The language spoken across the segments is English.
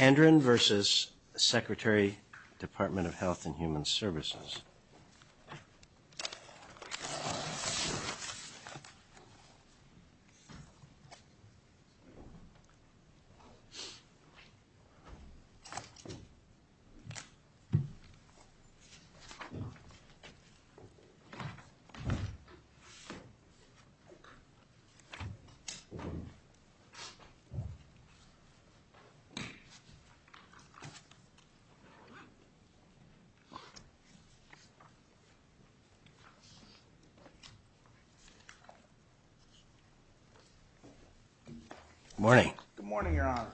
Andron v. Secretary Department of Health and Human Services Good morning. Good morning, Your Honors.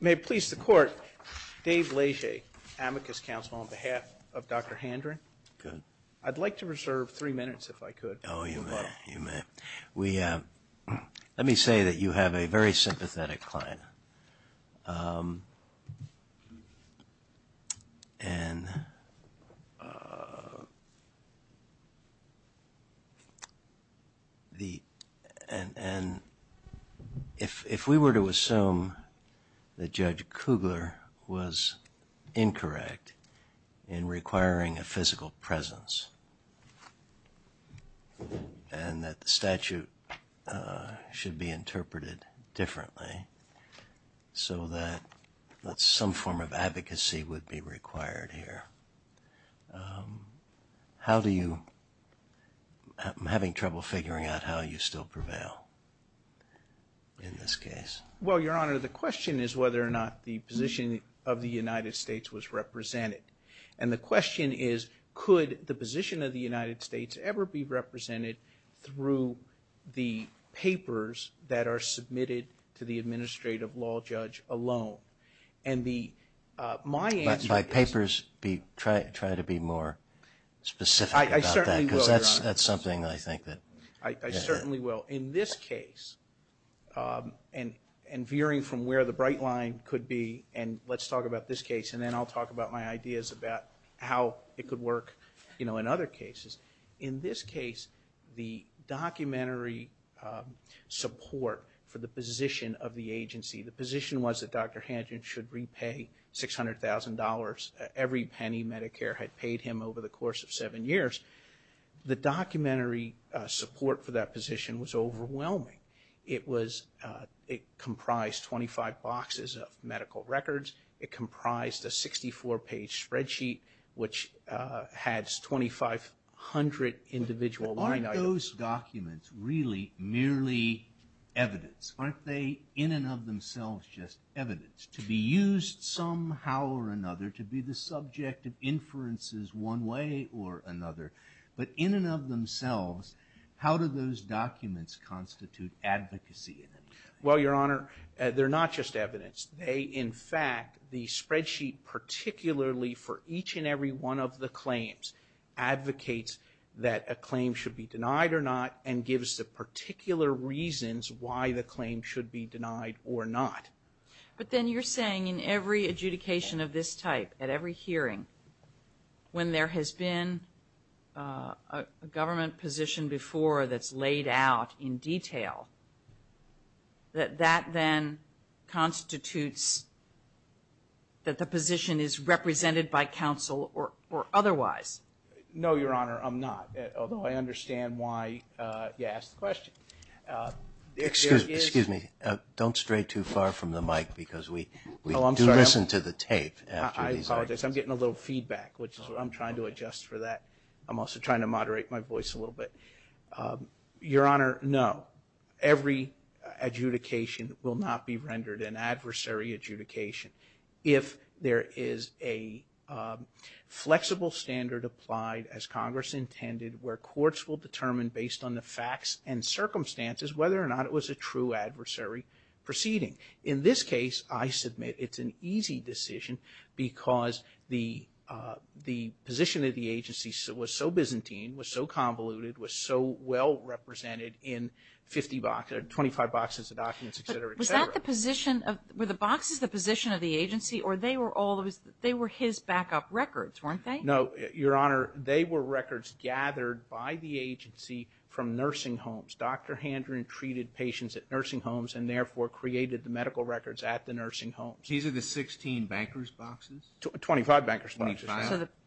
May it please the Court, Dave Leger, Amicus Counsel on behalf of Dr. Handron. I'd like to reserve three minutes if I could. Oh, you may. You may. Let me say that you have a very sympathetic client. And if we were to assume that Judge Kugler was incorrect in requiring a physical presence and that the statute should be interpreted differently so that some form of advocacy would be required here, how do you, I'm having trouble figuring out how you still prevail in this case. Well, Your Honor, the question is whether or not the position of the United States was represented. And the question is, could the position of the United States ever be represented through the papers that are submitted to the administrative law judge alone? And my answer is... But my papers try to be more specific about that. I certainly will, Your Honor. Because that's something I think that... I certainly will. In this case, and veering from where the bright line could be, and let's talk about this case, and then I'll talk about my ideas about how it could work in other cases. In this case, the documentary support for the position of the agency, the position was that Dr. Hangen should repay $600,000, every penny Medicare had paid him over the course of seven years. The documentary support for that position was overwhelming. It comprised 25 boxes of medical records. It comprised a 64-page spreadsheet, which has 2,500 individual line items. But aren't those documents really merely evidence? Aren't they in and of themselves just evidence to be used somehow or another, to be the subject of inferences one way or another? But in and of themselves, how do those documents constitute advocacy? Well, Your Honor, they're not just evidence. They, in fact, the spreadsheet particularly for each and every one of the claims, advocates that a claim should be denied or not, and gives the particular reasons why the claim should be denied or not. But then you're saying in every adjudication of this type, at every hearing, when there has been a government position before that's laid out in detail, that that then constitutes that the position is represented by counsel or otherwise? No, Your Honor, I'm not, although I understand why you asked the question. Excuse me. Don't stray too far from the mic because we do listen to the tape. I apologize. I'm getting a little feedback, which I'm trying to adjust for that. I'm also trying to moderate my voice a little bit. Your Honor, no. Every adjudication will not be rendered an adversary adjudication if there is a flexible standard applied, as Congress intended, where courts will determine based on the facts and circumstances whether or not it was a true adversary proceeding. In this case, I submit it's an easy decision because the position of the agency was so Byzantine, was so convoluted, was so well represented in 25 boxes of documents, etc., etc. But were the boxes the position of the agency or they were his backup records, weren't they? No, Your Honor, they were records gathered by the agency from nursing homes. Dr. Handren treated patients at nursing homes and therefore created the medical records at the nursing homes. 25 bankers' boxes.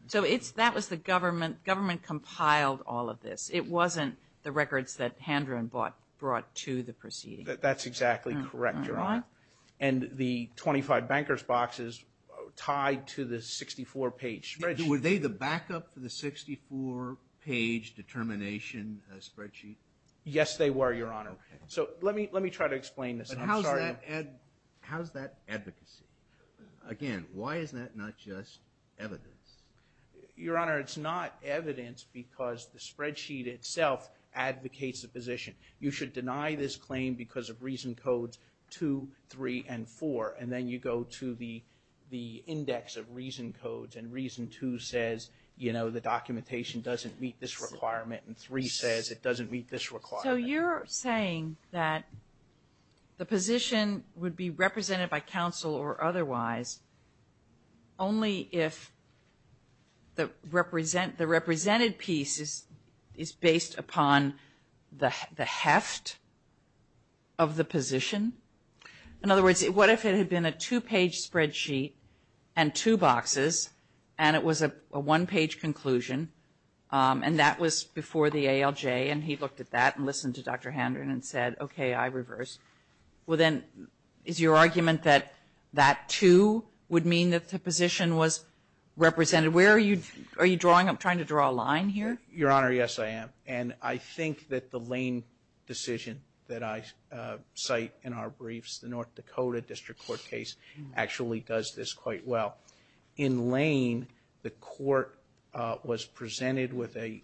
So that was the government. Government compiled all of this. It wasn't the records that Handren brought to the proceeding. That's exactly correct, Your Honor. And the 25 bankers' boxes tied to the 64-page spreadsheet. Were they the backup for the 64-page determination spreadsheet? Yes, they were, Your Honor. So let me try to explain this. How's that advocacy? Again, why is that not just evidence? Your Honor, it's not evidence because the spreadsheet itself advocates the position. You should deny this claim because of Reason Codes 2, 3, and 4, and then you go to the index of Reason Codes and Reason 2 says, you know, the documentation doesn't meet this requirement and 3 says it doesn't meet this requirement. So you're saying that the position would be represented by counsel or otherwise only if the represented piece is based upon the heft of the position? In other words, what if it had been a two-page spreadsheet and two boxes and it was a one-page conclusion and that was before the ALJ and he looked at that and listened to Dr. Handren and said, okay, I reverse. Well, then is your argument that that, too, would mean that the position was represented? Where are you drawing? I'm trying to draw a line here. Your Honor, yes, I am. And I think that the Lane decision that I cite in our briefs, the North Dakota District Court case, actually does this quite well. In Lane, the court was presented with a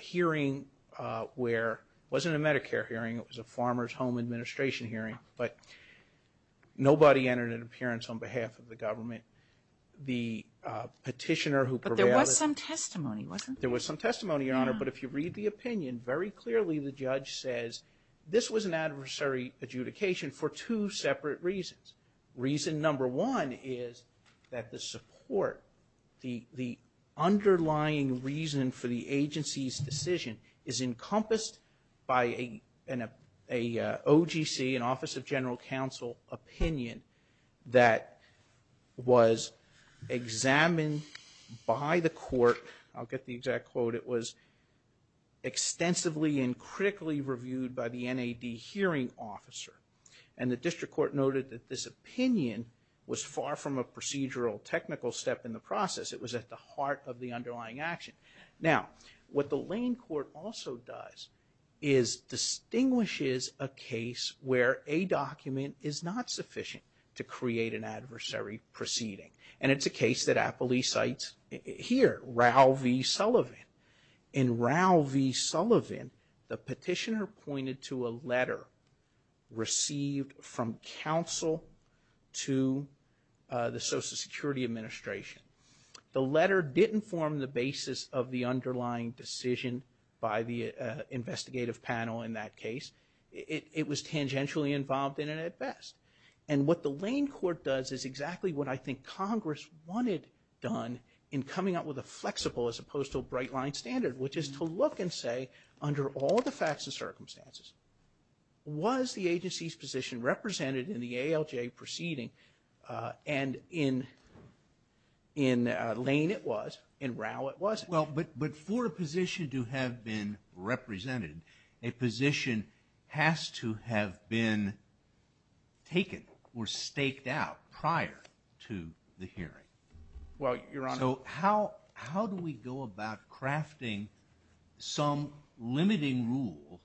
hearing where it wasn't a Medicare hearing, it was a Farmers Home Administration hearing, but nobody entered an appearance on behalf of the government. The petitioner who provided it. But there was some testimony, wasn't there? There was some testimony, Your Honor, but if you read the opinion, very clearly the judge says this was an adversary adjudication for two separate reasons. Reason number one is that the support, the underlying reason for the agency's decision is encompassed by an OGC, an Office of General Counsel opinion that was examined by the court. I'll get the exact quote. It was extensively and critically reviewed by the NAD hearing officer and the district court noted that this opinion was far from a procedural, technical step in the process. It was at the heart of the underlying action. Now, what the Lane court also does is distinguishes a case where a document is not sufficient to create an adversary proceeding. And it's a case that Apley cites here, Raul V. Sullivan. In Raul V. Sullivan, the petitioner pointed to a letter received from counsel to the Social Security Administration. The letter didn't form the basis of the underlying decision by the investigative panel in that case. It was tangentially involved in it at best. And what the Lane court does is exactly what I think Congress wanted done in coming up with a flexible as opposed to a bright line standard, which is to look and say, under all the facts and circumstances, was the agency's position represented in the ALJ proceeding? And in Lane it was. In Raul it wasn't. Well, but for a position to have been represented, a position has to have been taken or staked out prior to the hearing. Well, Your Honor. So how do we go about crafting some limiting rule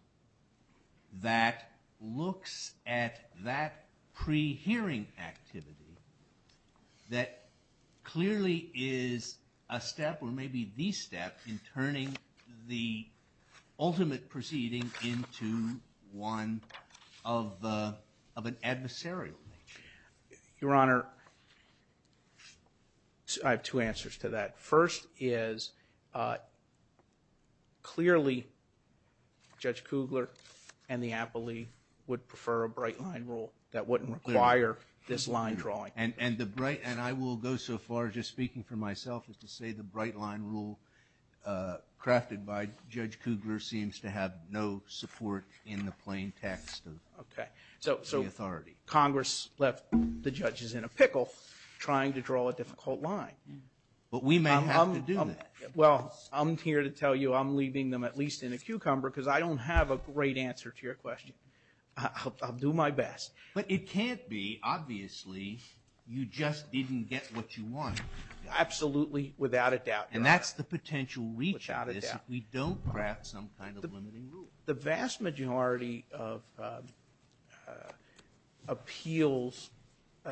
that looks at that pre-hearing activity that clearly is a step or maybe the step in turning the ultimate proceeding into one of an adversarial nature? Your Honor, I have two answers to that. First is clearly Judge Kugler and the appellee would prefer a bright line rule that wouldn't require this line drawing. And I will go so far, just speaking for myself, as to say the bright line rule crafted by Judge Kugler seems to have no support in the plain text of the authority. So Congress left the judges in a pickle trying to draw a difficult line. But we may have to do that. Well, I'm here to tell you I'm leaving them at least in a cucumber because I don't have a great answer to your question. I'll do my best. But it can't be, obviously, you just didn't get what you wanted. Absolutely, without a doubt, Your Honor. And that's the potential reach of this. Without a doubt. We don't craft some kind of limiting rule. The vast majority of appeals,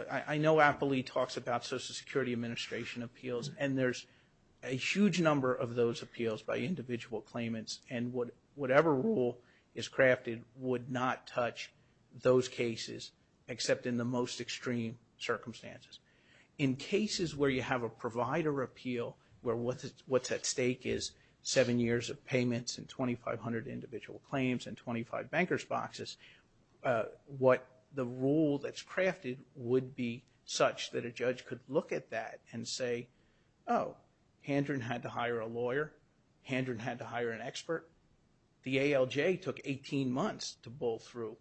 I know appellee talks about Social Security Administration appeals, and there's a huge number of those appeals by individual claimants. And whatever rule is crafted would not touch those cases except in the most extreme circumstances. In cases where you have a provider appeal, where what's at stake is seven years of payments and 2,500 individual claims and 25 banker's boxes, what the rule that's crafted would be such that a judge could look at that and say, oh, Handren had to hire a lawyer. Handren had to hire an expert. The ALJ took 18 months to bull through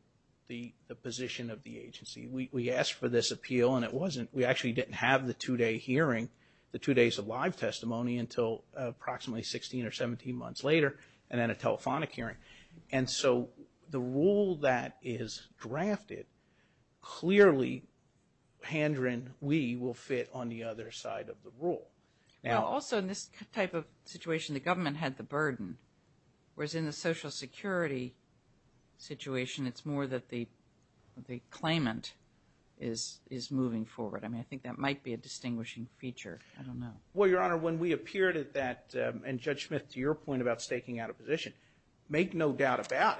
the position of the agency. We asked for this appeal, and it wasn't. We actually didn't have the two-day hearing. The two days of live testimony until approximately 16 or 17 months later, and then a telephonic hearing. And so the rule that is drafted clearly, Handren, we will fit on the other side of the rule. Also, in this type of situation, the government had the burden, whereas in the Social Security situation, it's more that the claimant is moving forward. I mean, I think that might be a distinguishing feature. I don't know. Well, Your Honor, when we appeared at that, and Judge Smith, to your point about staking out a position, make no doubt about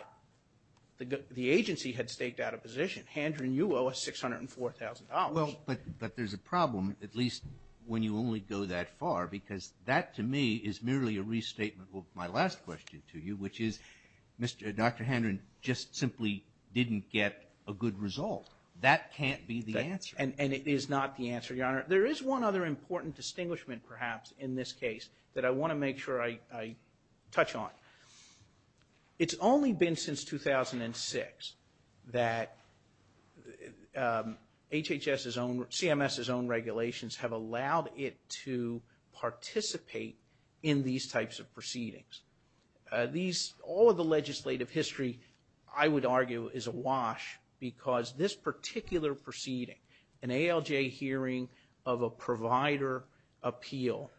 it. The agency had staked out a position. Handren, you owe us $604,000. Well, but there's a problem, at least when you only go that far, because that to me is merely a restatement of my last question to you, which is Dr. Handren just simply didn't get a good result. That can't be the answer. And it is not the answer, Your Honor. There is one other important distinguishment, perhaps, in this case, that I want to make sure I touch on. It's only been since 2006 that HHS's own, CMS's own regulations, have allowed it to participate in these types of proceedings. All of the legislative history, I would argue, is awash, because this particular proceeding, an ALJ hearing of a provider appeal,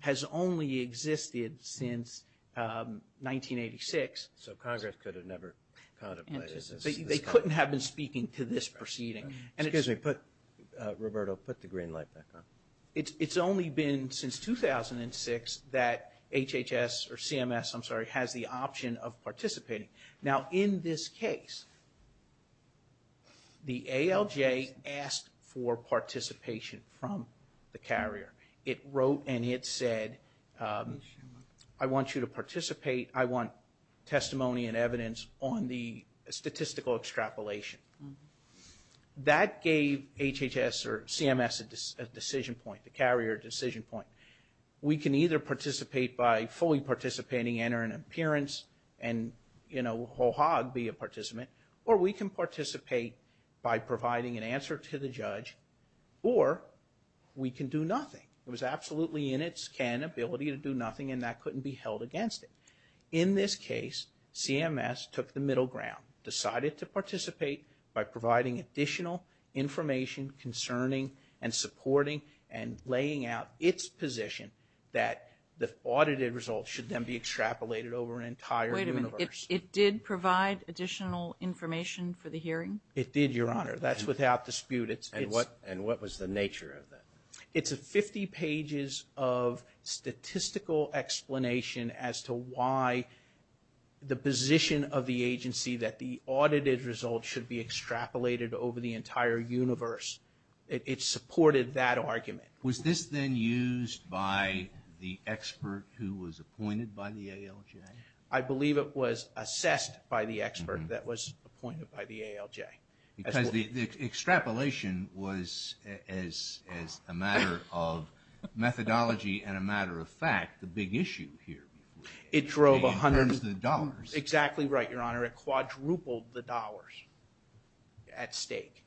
has only existed since 1986. So Congress could have never contemplated this. They couldn't have been speaking to this proceeding. Excuse me. Roberto, put the green light back on. It's only been since 2006 that HHS, or CMS, I'm sorry, has the option of participating. Now, in this case, the ALJ asked for participation from the carrier. It wrote and it said, I want you to participate. I want testimony and evidence on the statistical extrapolation. That gave HHS or CMS a decision point, the carrier a decision point. We can either participate by fully participating, enter an appearance, and, you know, ho-hog be a participant, or we can participate by providing an answer to the judge, or we can do nothing. It was absolutely in its can ability to do nothing, and that couldn't be held against it. In this case, CMS took the middle ground, decided to participate by providing additional information concerning and supporting and laying out its position that the audited results should then be Wait a minute. It did provide additional information for the hearing? It did, Your Honor. That's without dispute. And what was the nature of that? It's 50 pages of statistical explanation as to why the position of the agency that the audited results should be extrapolated over the entire universe. It supported that argument. Was this then used by the expert who was appointed by the ALJ? I believe it was assessed by the expert that was appointed by the ALJ. Because the extrapolation was, as a matter of methodology and a matter of fact, the big issue here. It drove hundreds of dollars. Exactly right, Your Honor. It quadrupled the dollars at stake,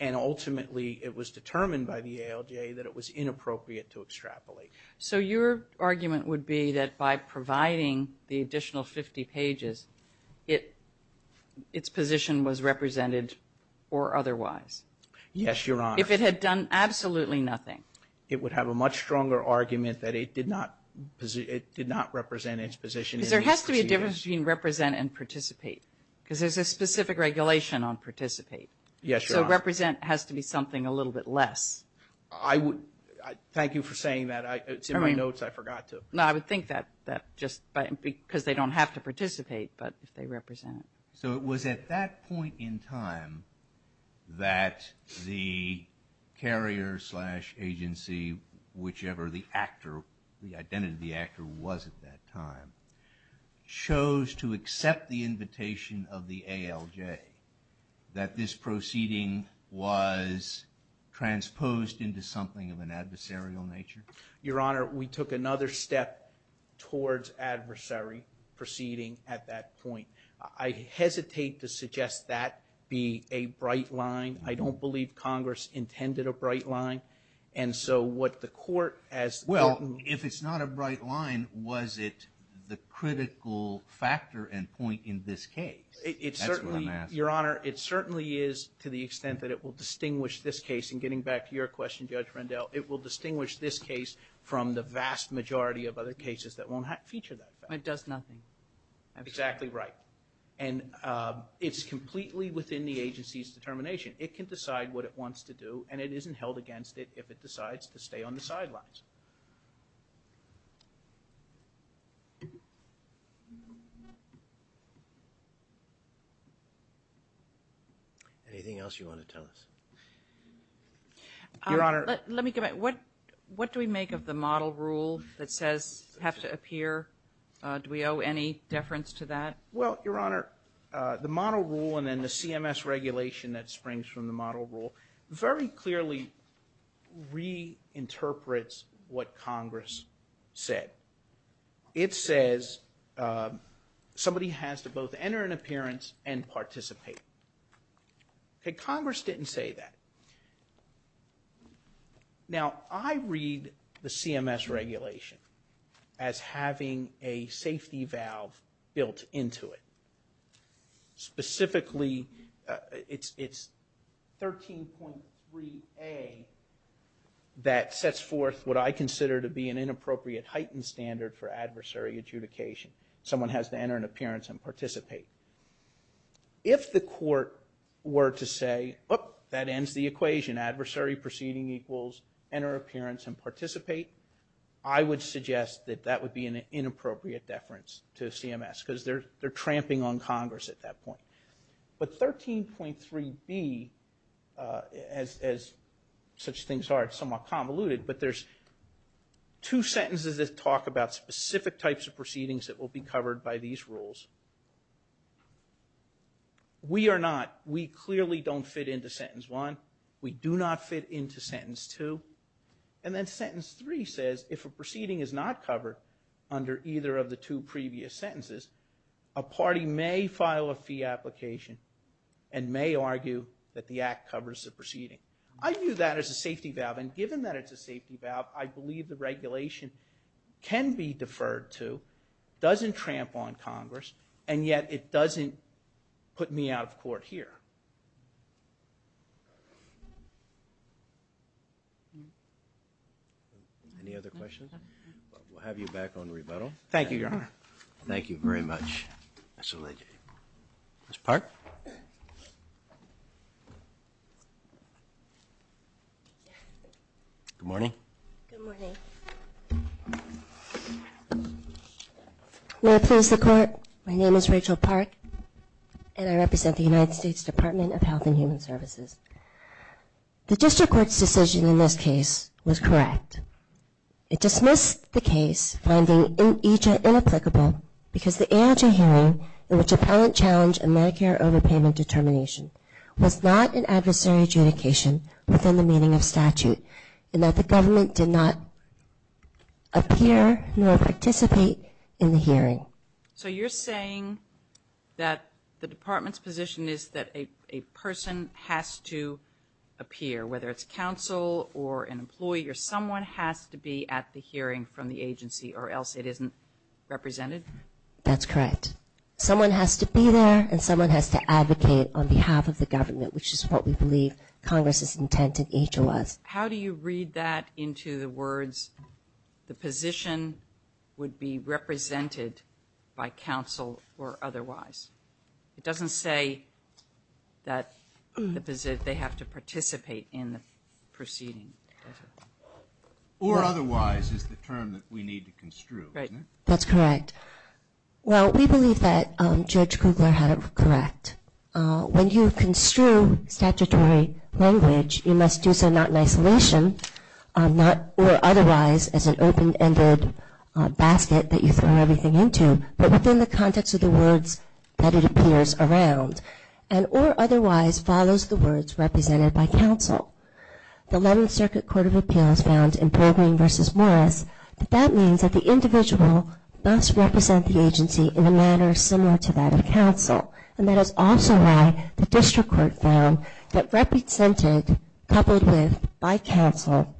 and ultimately it was determined by the ALJ that it was inappropriate to extrapolate. So your argument would be that by providing the additional 50 pages, its position was represented or otherwise? Yes, Your Honor. If it had done absolutely nothing? It would have a much stronger argument that it did not represent its position. Because there has to be a difference between represent and participate, because there's a specific regulation on participate. Yes, Your Honor. So represent has to be something a little bit less. Thank you for saying that. It's in my notes. I forgot to. No, I would think that just because they don't have to participate, but if they represent it. So it was at that point in time that the carrier slash agency, whichever the actor, the identity of the actor was at that time, chose to accept the invitation of the ALJ, that this proceeding was transposed into something of an adversarial nature? Your Honor, we took another step towards adversary proceeding at that point. I hesitate to suggest that be a bright line. I don't believe Congress intended a bright line. And so what the court has. Well, if it's not a bright line, was it the critical factor and point in this case? That's what I'm asking. Your Honor, it certainly is to the extent that it will distinguish this case, and getting back to your question, Judge Rendell, it will distinguish this case from the vast majority of other cases that won't feature that. It does nothing. Exactly right. And it's completely within the agency's determination. It can decide what it wants to do, Anything else you want to tell us? Your Honor. Let me go back. What do we make of the model rule that says have to appear? Do we owe any deference to that? Well, Your Honor, the model rule and then the CMS regulation that springs from the model rule very clearly reinterprets what Congress said. It says somebody has to both enter an appearance and participate. Congress didn't say that. Now, I read the CMS regulation as having a safety valve built into it. Specifically, it's 13.3a that sets forth what I consider to be an inappropriate heightened standard for adversary adjudication. Someone has to enter an appearance and participate. If the court were to say, that ends the equation, adversary proceeding equals enter appearance and participate, I would suggest that that would be an inappropriate deference to CMS, because they're tramping on Congress at that point. But 13.3b, as such things are somewhat convoluted, but there's two sentences that talk about specific types of proceedings that will be covered by these rules. We are not, we clearly don't fit into sentence one. We do not fit into sentence two. And then sentence three says, if a proceeding is not covered under either of the two previous sentences, a party may file a fee application and may argue that the act covers the proceeding. I view that as a safety valve, and given that it's a safety valve, I believe the regulation can be deferred to, doesn't tramp on Congress, and yet it doesn't put me out of court here. Any other questions? We'll have you back on rebuttal. Thank you, Your Honor. Thank you very much, Mr. Legate. Ms. Park? Good morning. Good morning. May I please the court? My name is Rachel Park, and I represent the United States Department of Health and Human Services. The district court's decision in this case was correct. It dismissed the case, finding it inapplicable because the ANJ hearing, in which appellant challenged a Medicare overpayment determination, was not an adversary adjudication within the meaning of statute, and that the government did not appear nor participate in the hearing. So you're saying that the department's position is that a person has to appear, whether it's counsel or an employee, or someone has to be at the hearing from the agency or else it isn't represented? That's correct. Someone has to be there, and someone has to advocate on behalf of the government, which is what we believe Congress's intent in nature was. How do you read that into the words, the position would be represented by counsel or otherwise? It doesn't say that they have to participate in the proceeding, does it? Or otherwise is the term that we need to construe, isn't it? That's correct. Well, we believe that Judge Kugler had it correct. When you construe statutory language, you must do so not in isolation, not or otherwise as an open-ended basket that you throw everything into, but within the context of the words that it appears around, and or otherwise follows the words represented by counsel. The Eleventh Circuit Court of Appeals found in Pilgrim v. Morris that that means that the individual must represent the agency in a manner similar to that of counsel, and that is also why the district court found that represented coupled with by counsel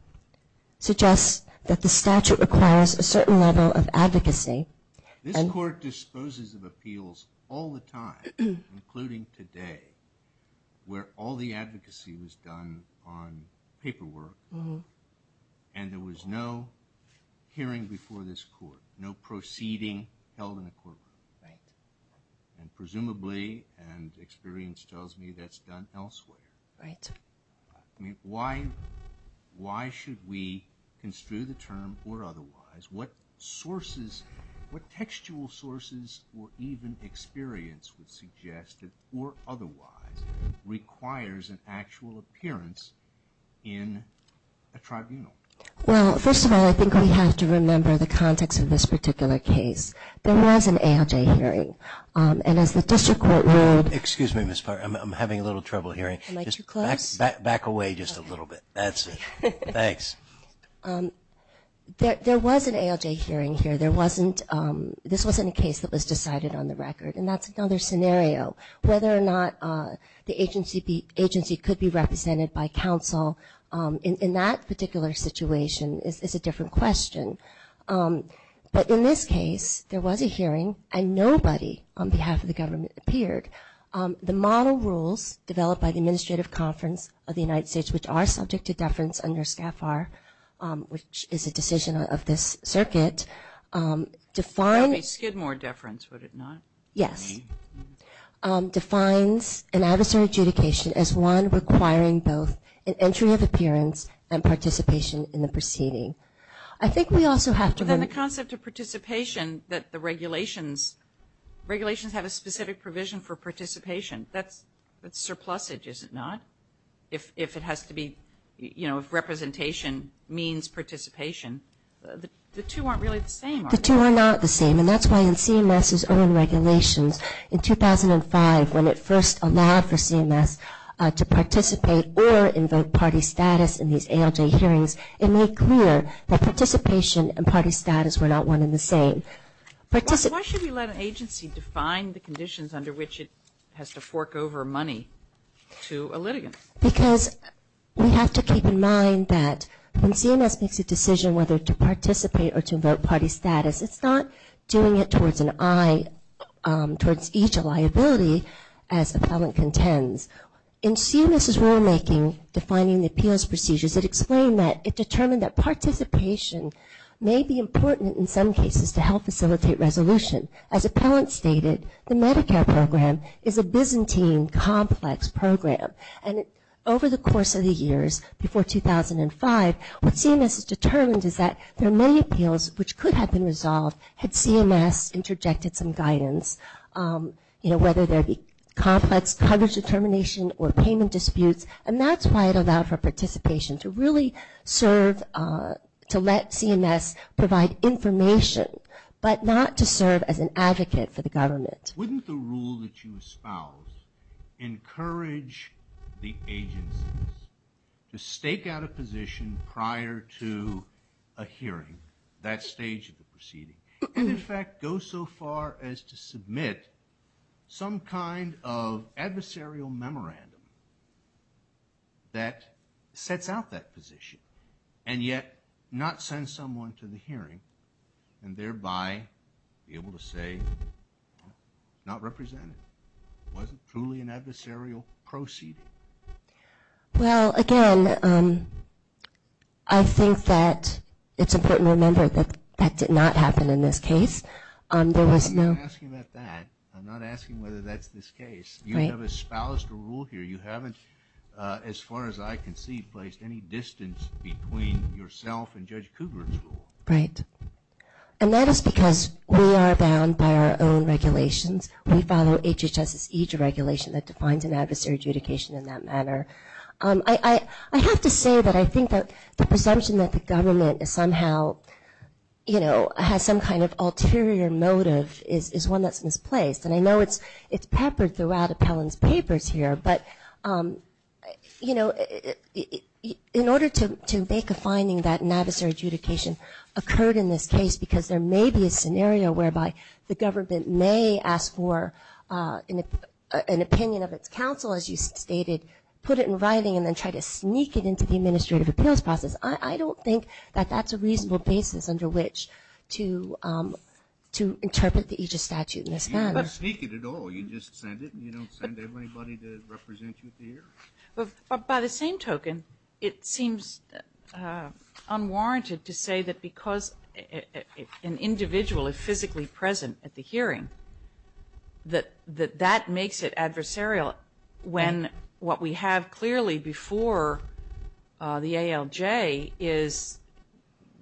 suggests that the statute requires a certain level of advocacy. This court disposes of appeals all the time, including today, where all the advocacy was done on paperwork, and there was no hearing before this court, no proceeding held in the courtroom. Right. And presumably, and experience tells me, that's done elsewhere. Right. Why should we construe the term or otherwise? What sources, what textual sources or even experience would suggest that or otherwise requires an actual appearance in a tribunal? Well, first of all, I think we have to remember the context of this particular case. There was an ALJ hearing, and as the district court ruled. Excuse me, Ms. Parr. I'm having a little trouble hearing. Am I too close? Back away just a little bit. That's it. Thanks. There was an ALJ hearing here. There wasn't, this wasn't a case that was decided on the record, and that's another scenario. Whether or not the agency could be represented by counsel in that particular situation is a different question. But in this case, there was a hearing, and nobody on behalf of the government appeared. The model rules developed by the Administrative Conference of the United States, which are subject to deference under SCAFAR, which is a decision of this circuit, define. That would be Skidmore deference, would it not? Yes. Defines an adversary adjudication as one requiring both an entry of appearance and participation in the proceeding. I think we also have to. But then the concept of participation that the regulations, regulations have a specific provision for participation. That's surplusage, is it not? If it has to be, you know, if representation means participation. The two aren't really the same, are they? The two are not the same, and that's why in CMS's own regulations in 2005, when it first allowed for CMS to participate or invoke party status in these ALJ hearings, it made clear that participation and party status were not one and the same. Why should we let an agency define the conditions under which it has to fork over money to a litigant? Because we have to keep in mind that when CMS makes a decision whether to participate or to invoke party status, it's not doing it towards an eye, towards each liability as appellant contends. In CMS's rulemaking defining the appeals procedures, it explained that it determined that participation may be important in some cases to help facilitate resolution. As appellant stated, the Medicare program is a Byzantine complex program. And over the course of the years before 2005, what CMS has determined is that there are many appeals which could have been resolved had CMS interjected some guidance, you know, whether there be complex coverage determination or payment disputes. And that's why it allowed for participation, to really serve, to let CMS provide information, but not to serve as an advocate for the government. Wouldn't the rule that you espouse encourage the agencies to stake out a position prior to a hearing, that stage of the proceeding, and, in fact, go so far as to submit some kind of adversarial memorandum that sets out that position and yet not send someone to the hearing and thereby be able to say, not represented, wasn't truly an adversarial proceeding? Well, again, I think that it's important to remember that that did not happen in this case. I'm not asking about that. I'm not asking whether that's this case. You have espoused a rule here. You haven't, as far as I can see, placed any distance between yourself and Judge Kugler's rule. Right. And that is because we are bound by our own regulations. We follow HHS's EJID regulation that defines an adversary adjudication in that manner. I have to say that I think that the presumption that the government is somehow, you know, has some kind of ulterior motive is one that's misplaced. And I know it's peppered throughout Appellant's papers here, but, you know, in order to make a finding that an adversary adjudication occurred in this case because there may be a scenario whereby the government may ask for an opinion of its counsel, as you stated, put it in writing, and then try to sneak it into the administrative appeals process, I don't think that that's a reasonable basis under which to interpret the EJID statute in this manner. You don't sneak it at all. You just send it, and you don't send anybody to represent you at the hearing. By the same token, it seems unwarranted to say that because an individual is physically present at the hearing, that that makes it adversarial when what we have clearly before the ALJ is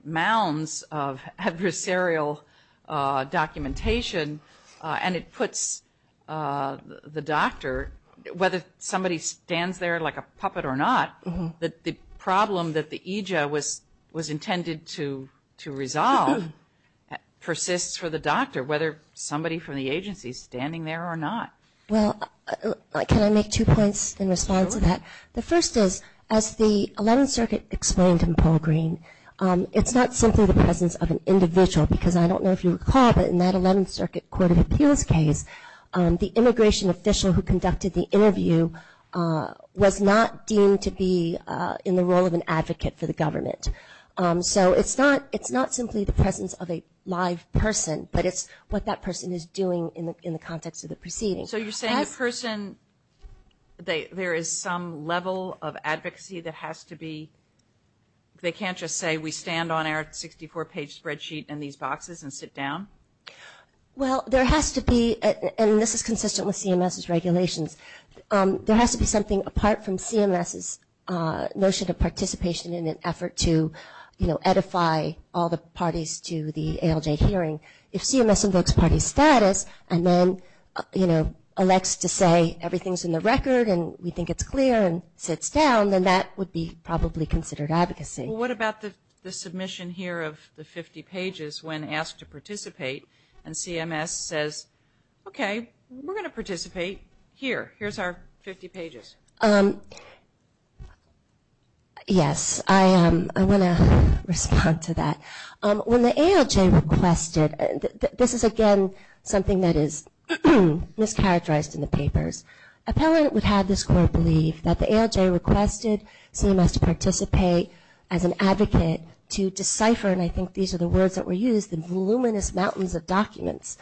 mounds of adversarial documentation, and it puts the doctor, whether somebody stands there like a puppet or not, that the problem that the EJID was intended to resolve persists for the doctor, whether somebody from the agency is standing there or not. Well, can I make two points in response to that? The first is, as the Eleventh Circuit explained in Paul Green, it's not simply the presence of an individual, because I don't know if you recall, but in that Eleventh Circuit Court of Appeals case, the immigration official who conducted the interview was not deemed to be in the role of an advocate for the government. So it's not simply the presence of a live person, but it's what that person is doing in the context of the proceedings. So you're saying the person, there is some level of advocacy that has to be, they can't just say we stand on our 64-page spreadsheet in these boxes and sit down? Well, there has to be, and this is consistent with CMS's regulations, there has to be something apart from CMS's notion of participation in an effort to, you know, edify all the parties to the ALJ hearing. If CMS invokes party status and then, you know, elects to say everything's in the record and we think it's clear and sits down, then that would be probably considered advocacy. Well, what about the submission here of the 50 pages when asked to participate and CMS says, okay, we're going to participate here. Here's our 50 pages. Yes, I want to respond to that. When the ALJ requested, this is, again, something that is mischaracterized in the papers. Appellant would have this core belief that the ALJ requested CMS to participate as an advocate to decipher, and I think these are the words that were used, the voluminous mountains of documents.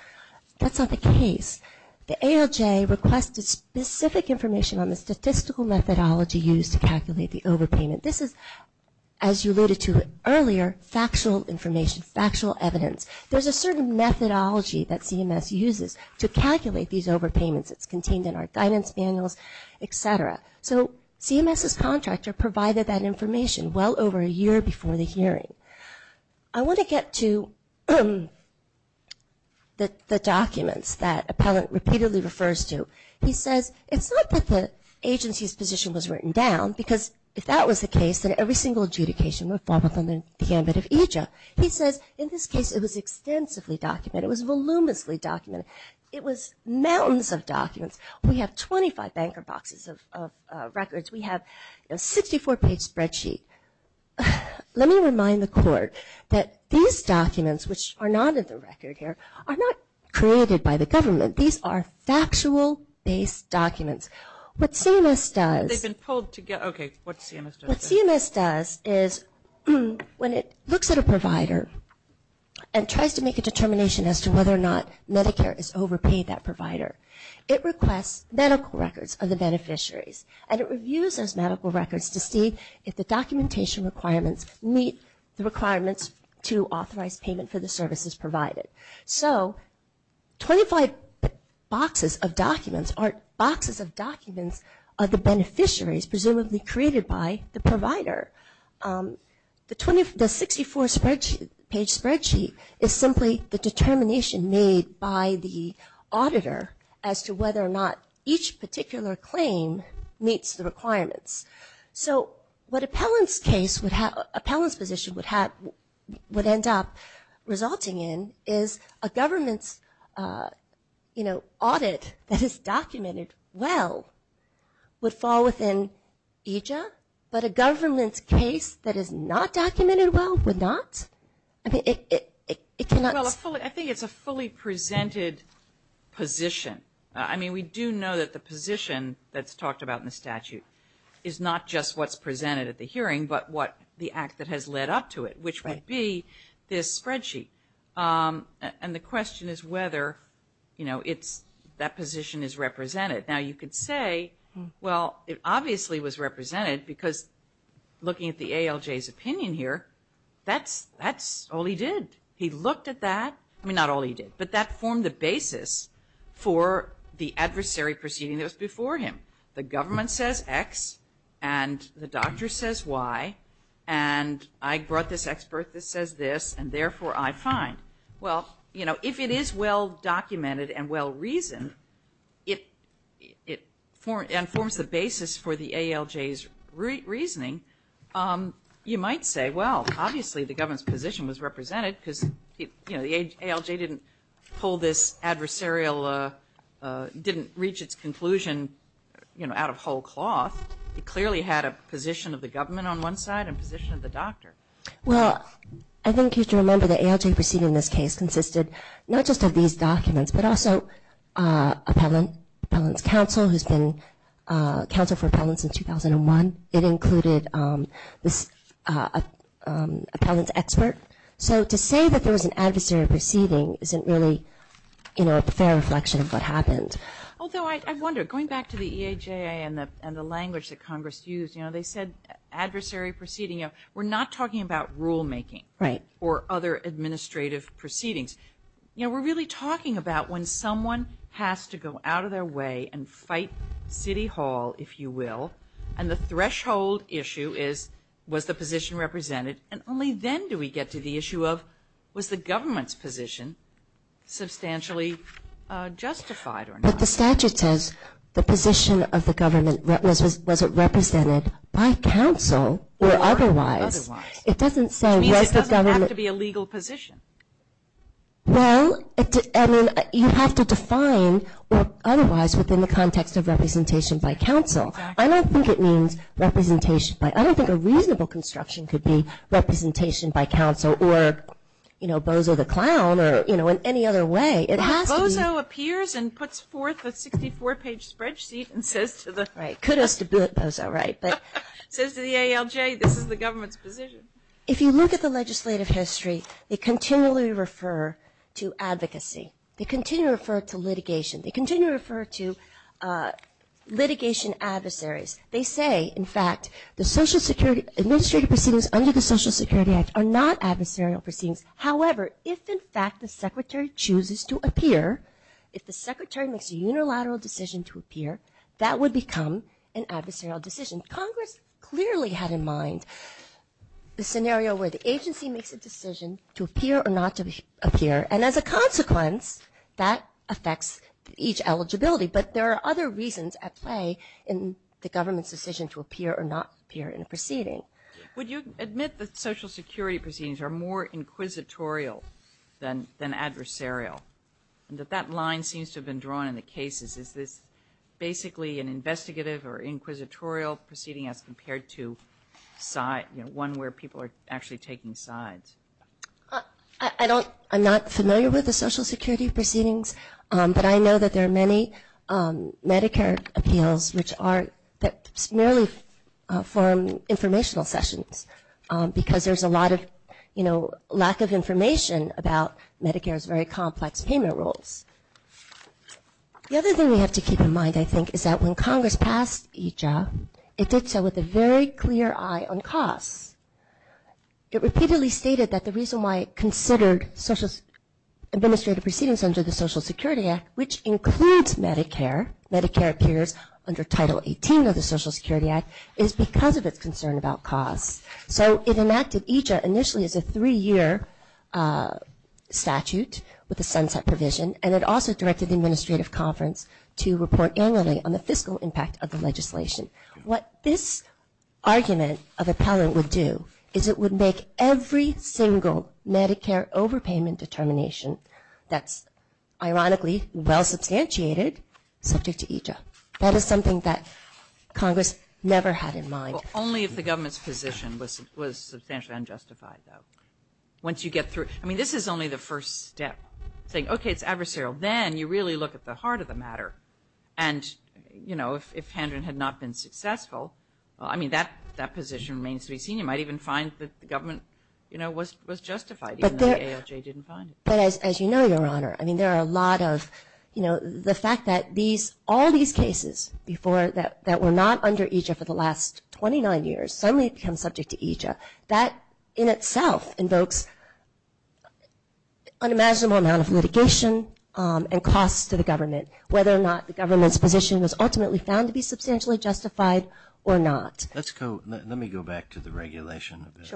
That's not the case. The ALJ requested specific information on the statistical methodology used to calculate the overpayment. This is, as you alluded to earlier, factual information, factual evidence. There's a certain methodology that CMS uses to calculate these overpayments. It's contained in our guidance manuals, et cetera. So CMS's contractor provided that information well over a year before the hearing. I want to get to the documents that appellant repeatedly refers to. He says it's not that the agency's position was written down because if that was the case, then every single adjudication would fall within the gamut of EJA. He says, in this case, it was extensively documented. It was voluminously documented. It was mountains of documents. We have 25 banker boxes of records. We have a 64-page spreadsheet. Let me remind the court that these documents, which are not in the record here, are not created by the government. These are factual-based documents. What CMS does is when it looks at a provider and tries to make a determination as to whether or not Medicare has overpaid that provider, it requests medical records of the beneficiaries, and it reviews those medical records to see if the documentation requirements meet the requirements to authorize payment for the services provided. So 25 boxes of documents are boxes of documents of the beneficiaries, presumably created by the provider. The 64-page spreadsheet is simply the determination made by the auditor as to whether or not each particular claim meets the requirements. So what appellant's position would end up resulting in is a government's audit that is documented well would fall within EJA, but a government's case that is not documented well would not? Well, I think it's a fully presented position. I mean, we do know that the position that's talked about in the statute is not just what's presented at the hearing, but what the act that has led up to it, which would be this spreadsheet. And the question is whether that position is represented. Now, you could say, well, it obviously was represented because looking at the ALJ's opinion here, that's all he did. He looked at that. I mean, not all he did, but that formed the basis for the adversary proceeding that was before him. The government says X, and the doctor says Y, and I brought this expert that says this, and therefore I find. Well, if it is well-documented and well-reasoned, and forms the basis for the ALJ's reasoning, you might say, well, obviously the government's position was represented because the ALJ didn't pull this adversarial, didn't reach its conclusion out of whole cloth. It clearly had a position of the government on one side and a position of the doctor. Well, I think you should remember the ALJ proceeding in this case consisted not just of these documents, but also appellant's counsel, who's been counsel for appellants since 2001. It included this appellant's expert. So to say that there was an adversary proceeding isn't really a fair reflection of what happened. Although I wonder, going back to the EHA and the language that Congress used, they said adversary proceeding. We're not talking about rulemaking or other administrative proceedings. We're really talking about when someone has to go out of their way and fight City Hall, if you will, and the threshold issue is, was the position represented? And only then do we get to the issue of, was the government's position substantially justified or not? But the statute says the position of the government, was it represented by counsel or otherwise? It doesn't say was the government... Which means it doesn't have to be a legal position. Well, I mean, you have to define otherwise within the context of representation by counsel. I don't think it means representation by... I don't think a reasonable construction could be representation by counsel or Bozo the Clown or in any other way. Bozo appears and puts forth a 64-page spreadsheet and says to the... Right, kudos to Bozo, right. Says to the ALJ, this is the government's position. If you look at the legislative history, they continually refer to advocacy. They continue to refer to litigation. They continue to refer to litigation adversaries. They say, in fact, the social security administrative proceedings under the Social Security Act are not adversarial proceedings. However, if in fact the secretary chooses to appear, if the secretary makes a unilateral decision to appear, that would become an adversarial decision. Congress clearly had in mind the scenario where the agency makes a decision to appear or not to appear. And as a consequence, that affects each eligibility. But there are other reasons at play in the government's decision to appear or not appear in a proceeding. Would you admit that social security proceedings are more inquisitorial than adversarial? And that that line seems to have been drawn in the cases. Is this basically an investigative or inquisitorial proceeding as compared to one where people are actually taking sides? I don't, I'm not familiar with the social security proceedings, but I know that there are many Medicare appeals which are, that merely form informational sessions. Because there's a lot of, you know, lack of information about Medicare's very complex payment rules. The other thing we have to keep in mind, I think, is that when Congress passed EJA, it did so with a very clear eye on costs. It repeatedly stated that the reason why it considered administrative proceedings under the Social Security Act, which includes Medicare, Medicare appears under Title 18 of the Social Security Act, is because of its concern about costs. So it enacted EJA initially as a three-year statute with a sunset provision, and it also directed the administrative conference to report annually on the fiscal impact of the legislation. What this argument of appellant would do is it would make every single Medicare overpayment determination that's ironically well substantiated subject to EJA. That is something that Congress never had in mind. Well, only if the government's position was substantially unjustified, though. Once you get through, I mean, this is only the first step, saying, okay, it's adversarial. Then you really look at the heart of the matter, and, you know, if Hendron had not been successful, you might even find that the government, you know, was justified, even though the ALJ didn't find it. But as you know, Your Honor, I mean, there are a lot of, you know, the fact that these, all these cases before that were not under EJA for the last 29 years suddenly become subject to EJA. That in itself invokes unimaginable amount of litigation and costs to the government, whether or not the government's position was ultimately found to be substantially justified or not. Let's go, let me go back to the regulation a bit.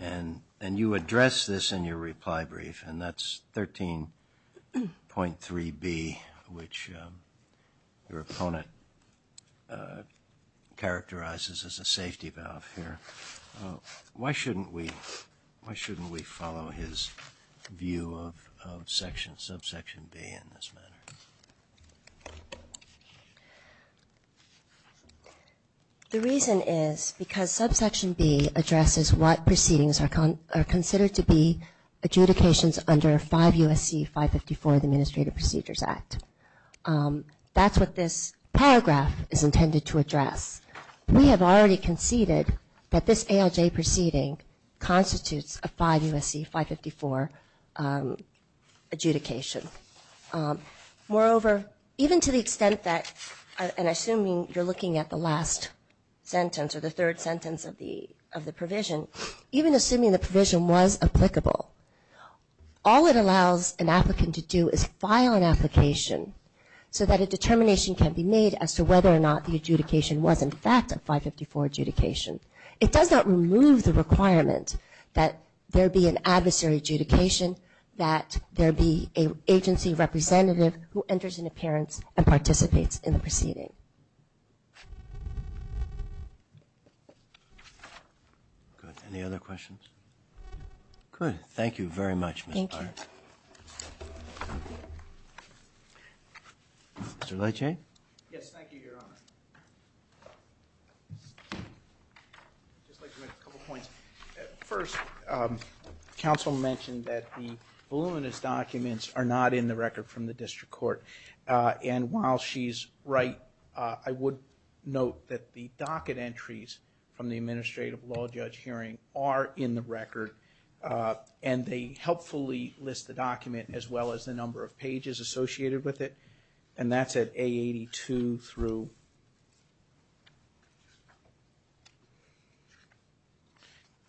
And you address this in your reply brief, and that's 13.3B, which your opponent characterizes as a safety valve here. Why shouldn't we follow his view of section, subsection B in this matter? The reason is because subsection B addresses what proceedings are considered to be adjudications under 5 U.S.C. 554, the Administrative Procedures Act. That's what this paragraph is intended to address. We have already conceded that this ALJ proceeding constitutes a 5 U.S.C. 554 adjudication. Moreover, even to the extent that, and assuming you're looking at the last sentence or the third sentence of the provision, even assuming the provision was applicable, all it allows an applicant to do is file an application so that a determination can be made as to whether or not the adjudication was in fact a 554 adjudication. It does not remove the requirement that there be an adversary adjudication, that there be an agency representative who enters an appearance and participates in the proceeding. Any other questions? Good. Thank you very much. Mr. Lecce? Yes, thank you, Your Honor. I'd just like to make a couple of points. First, counsel mentioned that the voluminous documents are not in the record from the district court. And while she's right, I would note that the docket entries from the Administrative Law Judge hearing are in the record, and they helpfully list the document as well as the number of pages associated with it. And that's at A82 through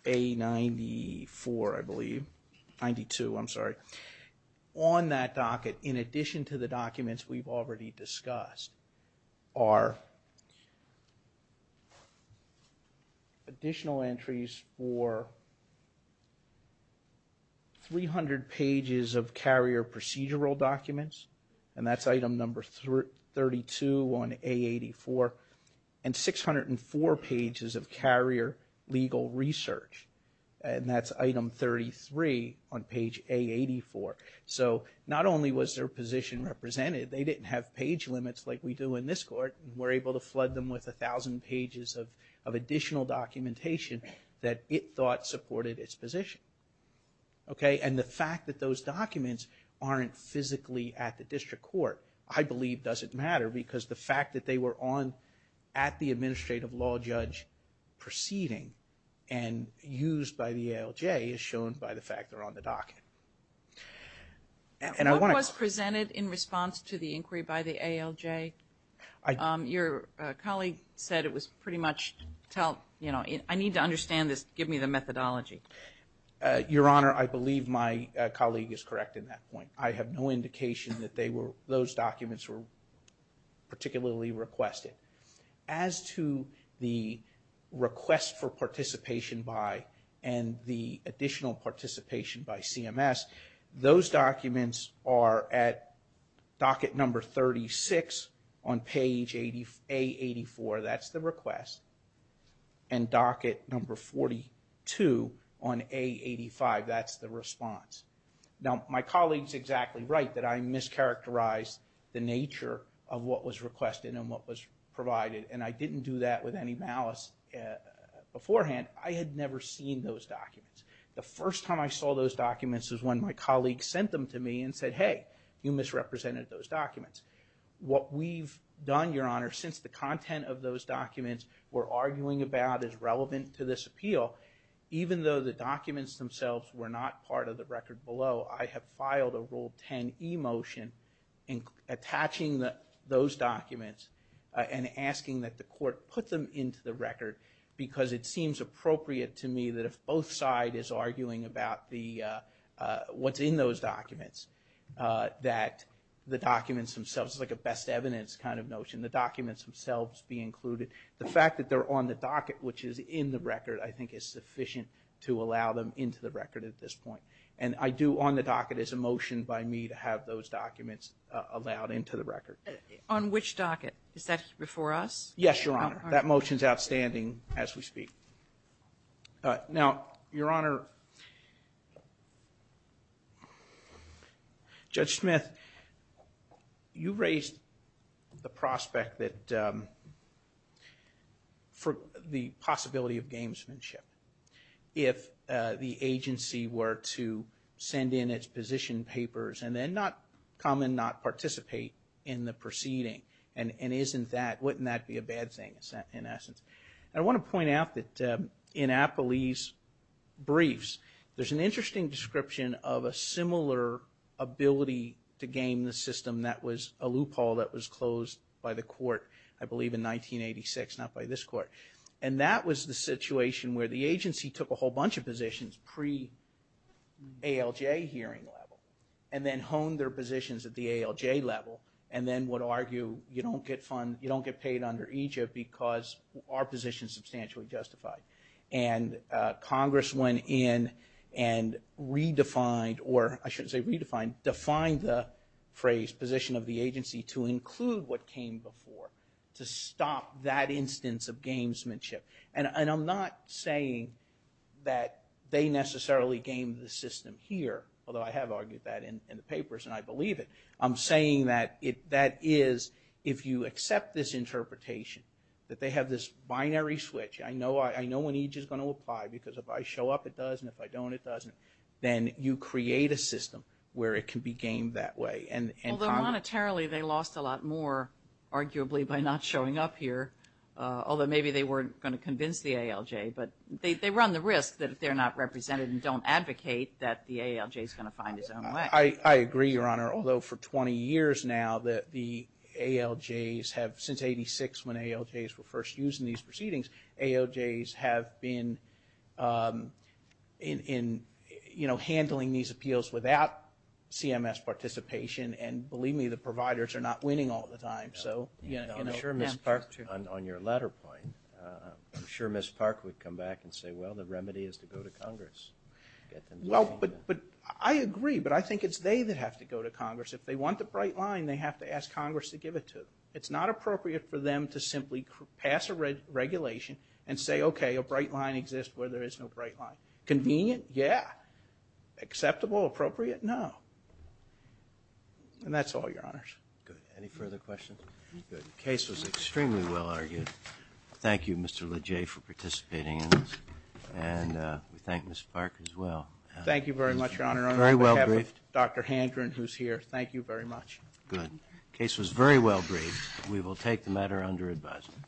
A94, I believe. 92, I'm sorry. On that docket, in addition to the documents we've already discussed, are additional entries for 300 pages of carrier procedural documents. And that's item number 32 on A84. And 604 pages of carrier legal research. And that's item 33 on page A84. So not only was their position represented, they didn't have page limits like we do in this court. And we're able to flood them with 1,000 pages of additional documentation that it thought supported its position. And the fact that those documents aren't physically at the district court, I believe doesn't matter, because the fact that they were at the Administrative Law Judge proceeding and used by the ALJ is shown by the fact they're on the docket. What was presented in response to the inquiry by the ALJ? Your colleague said it was pretty much, you know, I need to understand this, give me the methodology. Your Honor, I believe my colleague is correct in that point. I have no indication that those documents were particularly requested. As to the request for participation by and the additional participation by CMS, those documents are at docket number 36 on page A84, that's the request, and docket number 42 on A85, that's the response. Now my colleague's exactly right that I mischaracterized the nature of what was requested and what was provided, and I didn't do that with any malice beforehand. I had never seen those documents. The first time I saw those documents was when my colleague sent them to me and said, hey, you misrepresented those documents. What we've done, Your Honor, since the content of those documents we're arguing about is relevant to this appeal, even though the documents themselves were not part of the record below, I have filed a Rule 10 e-motion attaching those documents and asking that the court put them into the record, because it seems appropriate to me that if both side is arguing about what's in those documents, that the documents themselves, it's like a best evidence kind of notion, the documents themselves be included. The fact that they're on the docket, which is in the record, I think is sufficient to allow them into the record at this point. And I do, on the docket, it's a motion by me to have those documents allowed into the record. On which docket? Is that before us? Yes, Your Honor. That motion's outstanding as we speak. Now, Your Honor, Judge Smith, you raised the prospect that for the possibility of gamesmanship. If the agency were to send in its position papers and then not come and not participate in the proceeding, and isn't that, wouldn't that be a bad thing in essence? And I want to point out that in Appley's the game, the system, that was a loophole that was closed by the court, I believe in 1986, not by this court. And that was the situation where the agency took a whole bunch of positions pre-ALJ hearing level, and then honed their positions at the ALJ level, and then would argue, you don't get paid under EGIP because our position's substantially justified. And Congress went in and redefined, or I shouldn't say redefined, defined the phrase, position of the agency to include what came before, to stop that instance of gamesmanship. And I'm not saying that they necessarily gamed the system here, although I have argued that in the papers and I believe it. I'm saying that that is, if you accept this interpretation, that they have this binary switch. I know when EGIP's going to apply, because if I show up it does, and if I don't it doesn't. Then you create a system where it can be gamed that way. Although monetarily they lost a lot more, arguably, by not showing up here. Although maybe they weren't going to convince the ALJ, but they run the risk that if they're not represented and don't advocate that the ALJ's going to find its own way. I agree, Your Honor, although for 20 years now the ALJ's have, since 86 when ALJ's were first used in these proceedings, ALJ's have been in handling these appeals without CMS participation and believe me, the providers are not winning all the time. I'm sure Ms. Park, on your latter point, I'm sure Ms. Park would come back and say, well, the remedy is to go to Congress. Well, but I agree, but I think it's they that have to go to Congress. If they want the bright line, they have to ask Congress to give it to them. It's not appropriate for them to simply pass a regulation and say, okay, a bright line exists where there is no bright line. Convenient? Yeah. Acceptable? Appropriate? No. And that's all, Your Honors. Good. Any further questions? Good. The case was extremely well argued. Thank you, Mr. LeJay, for participating in this and we thank Ms. Park as well. Thank you very much, Your Honor. Very well briefed. On behalf of Dr. Handren, who's here, thank you very much. Good. The case was very well briefed. We will take the matter under advisement.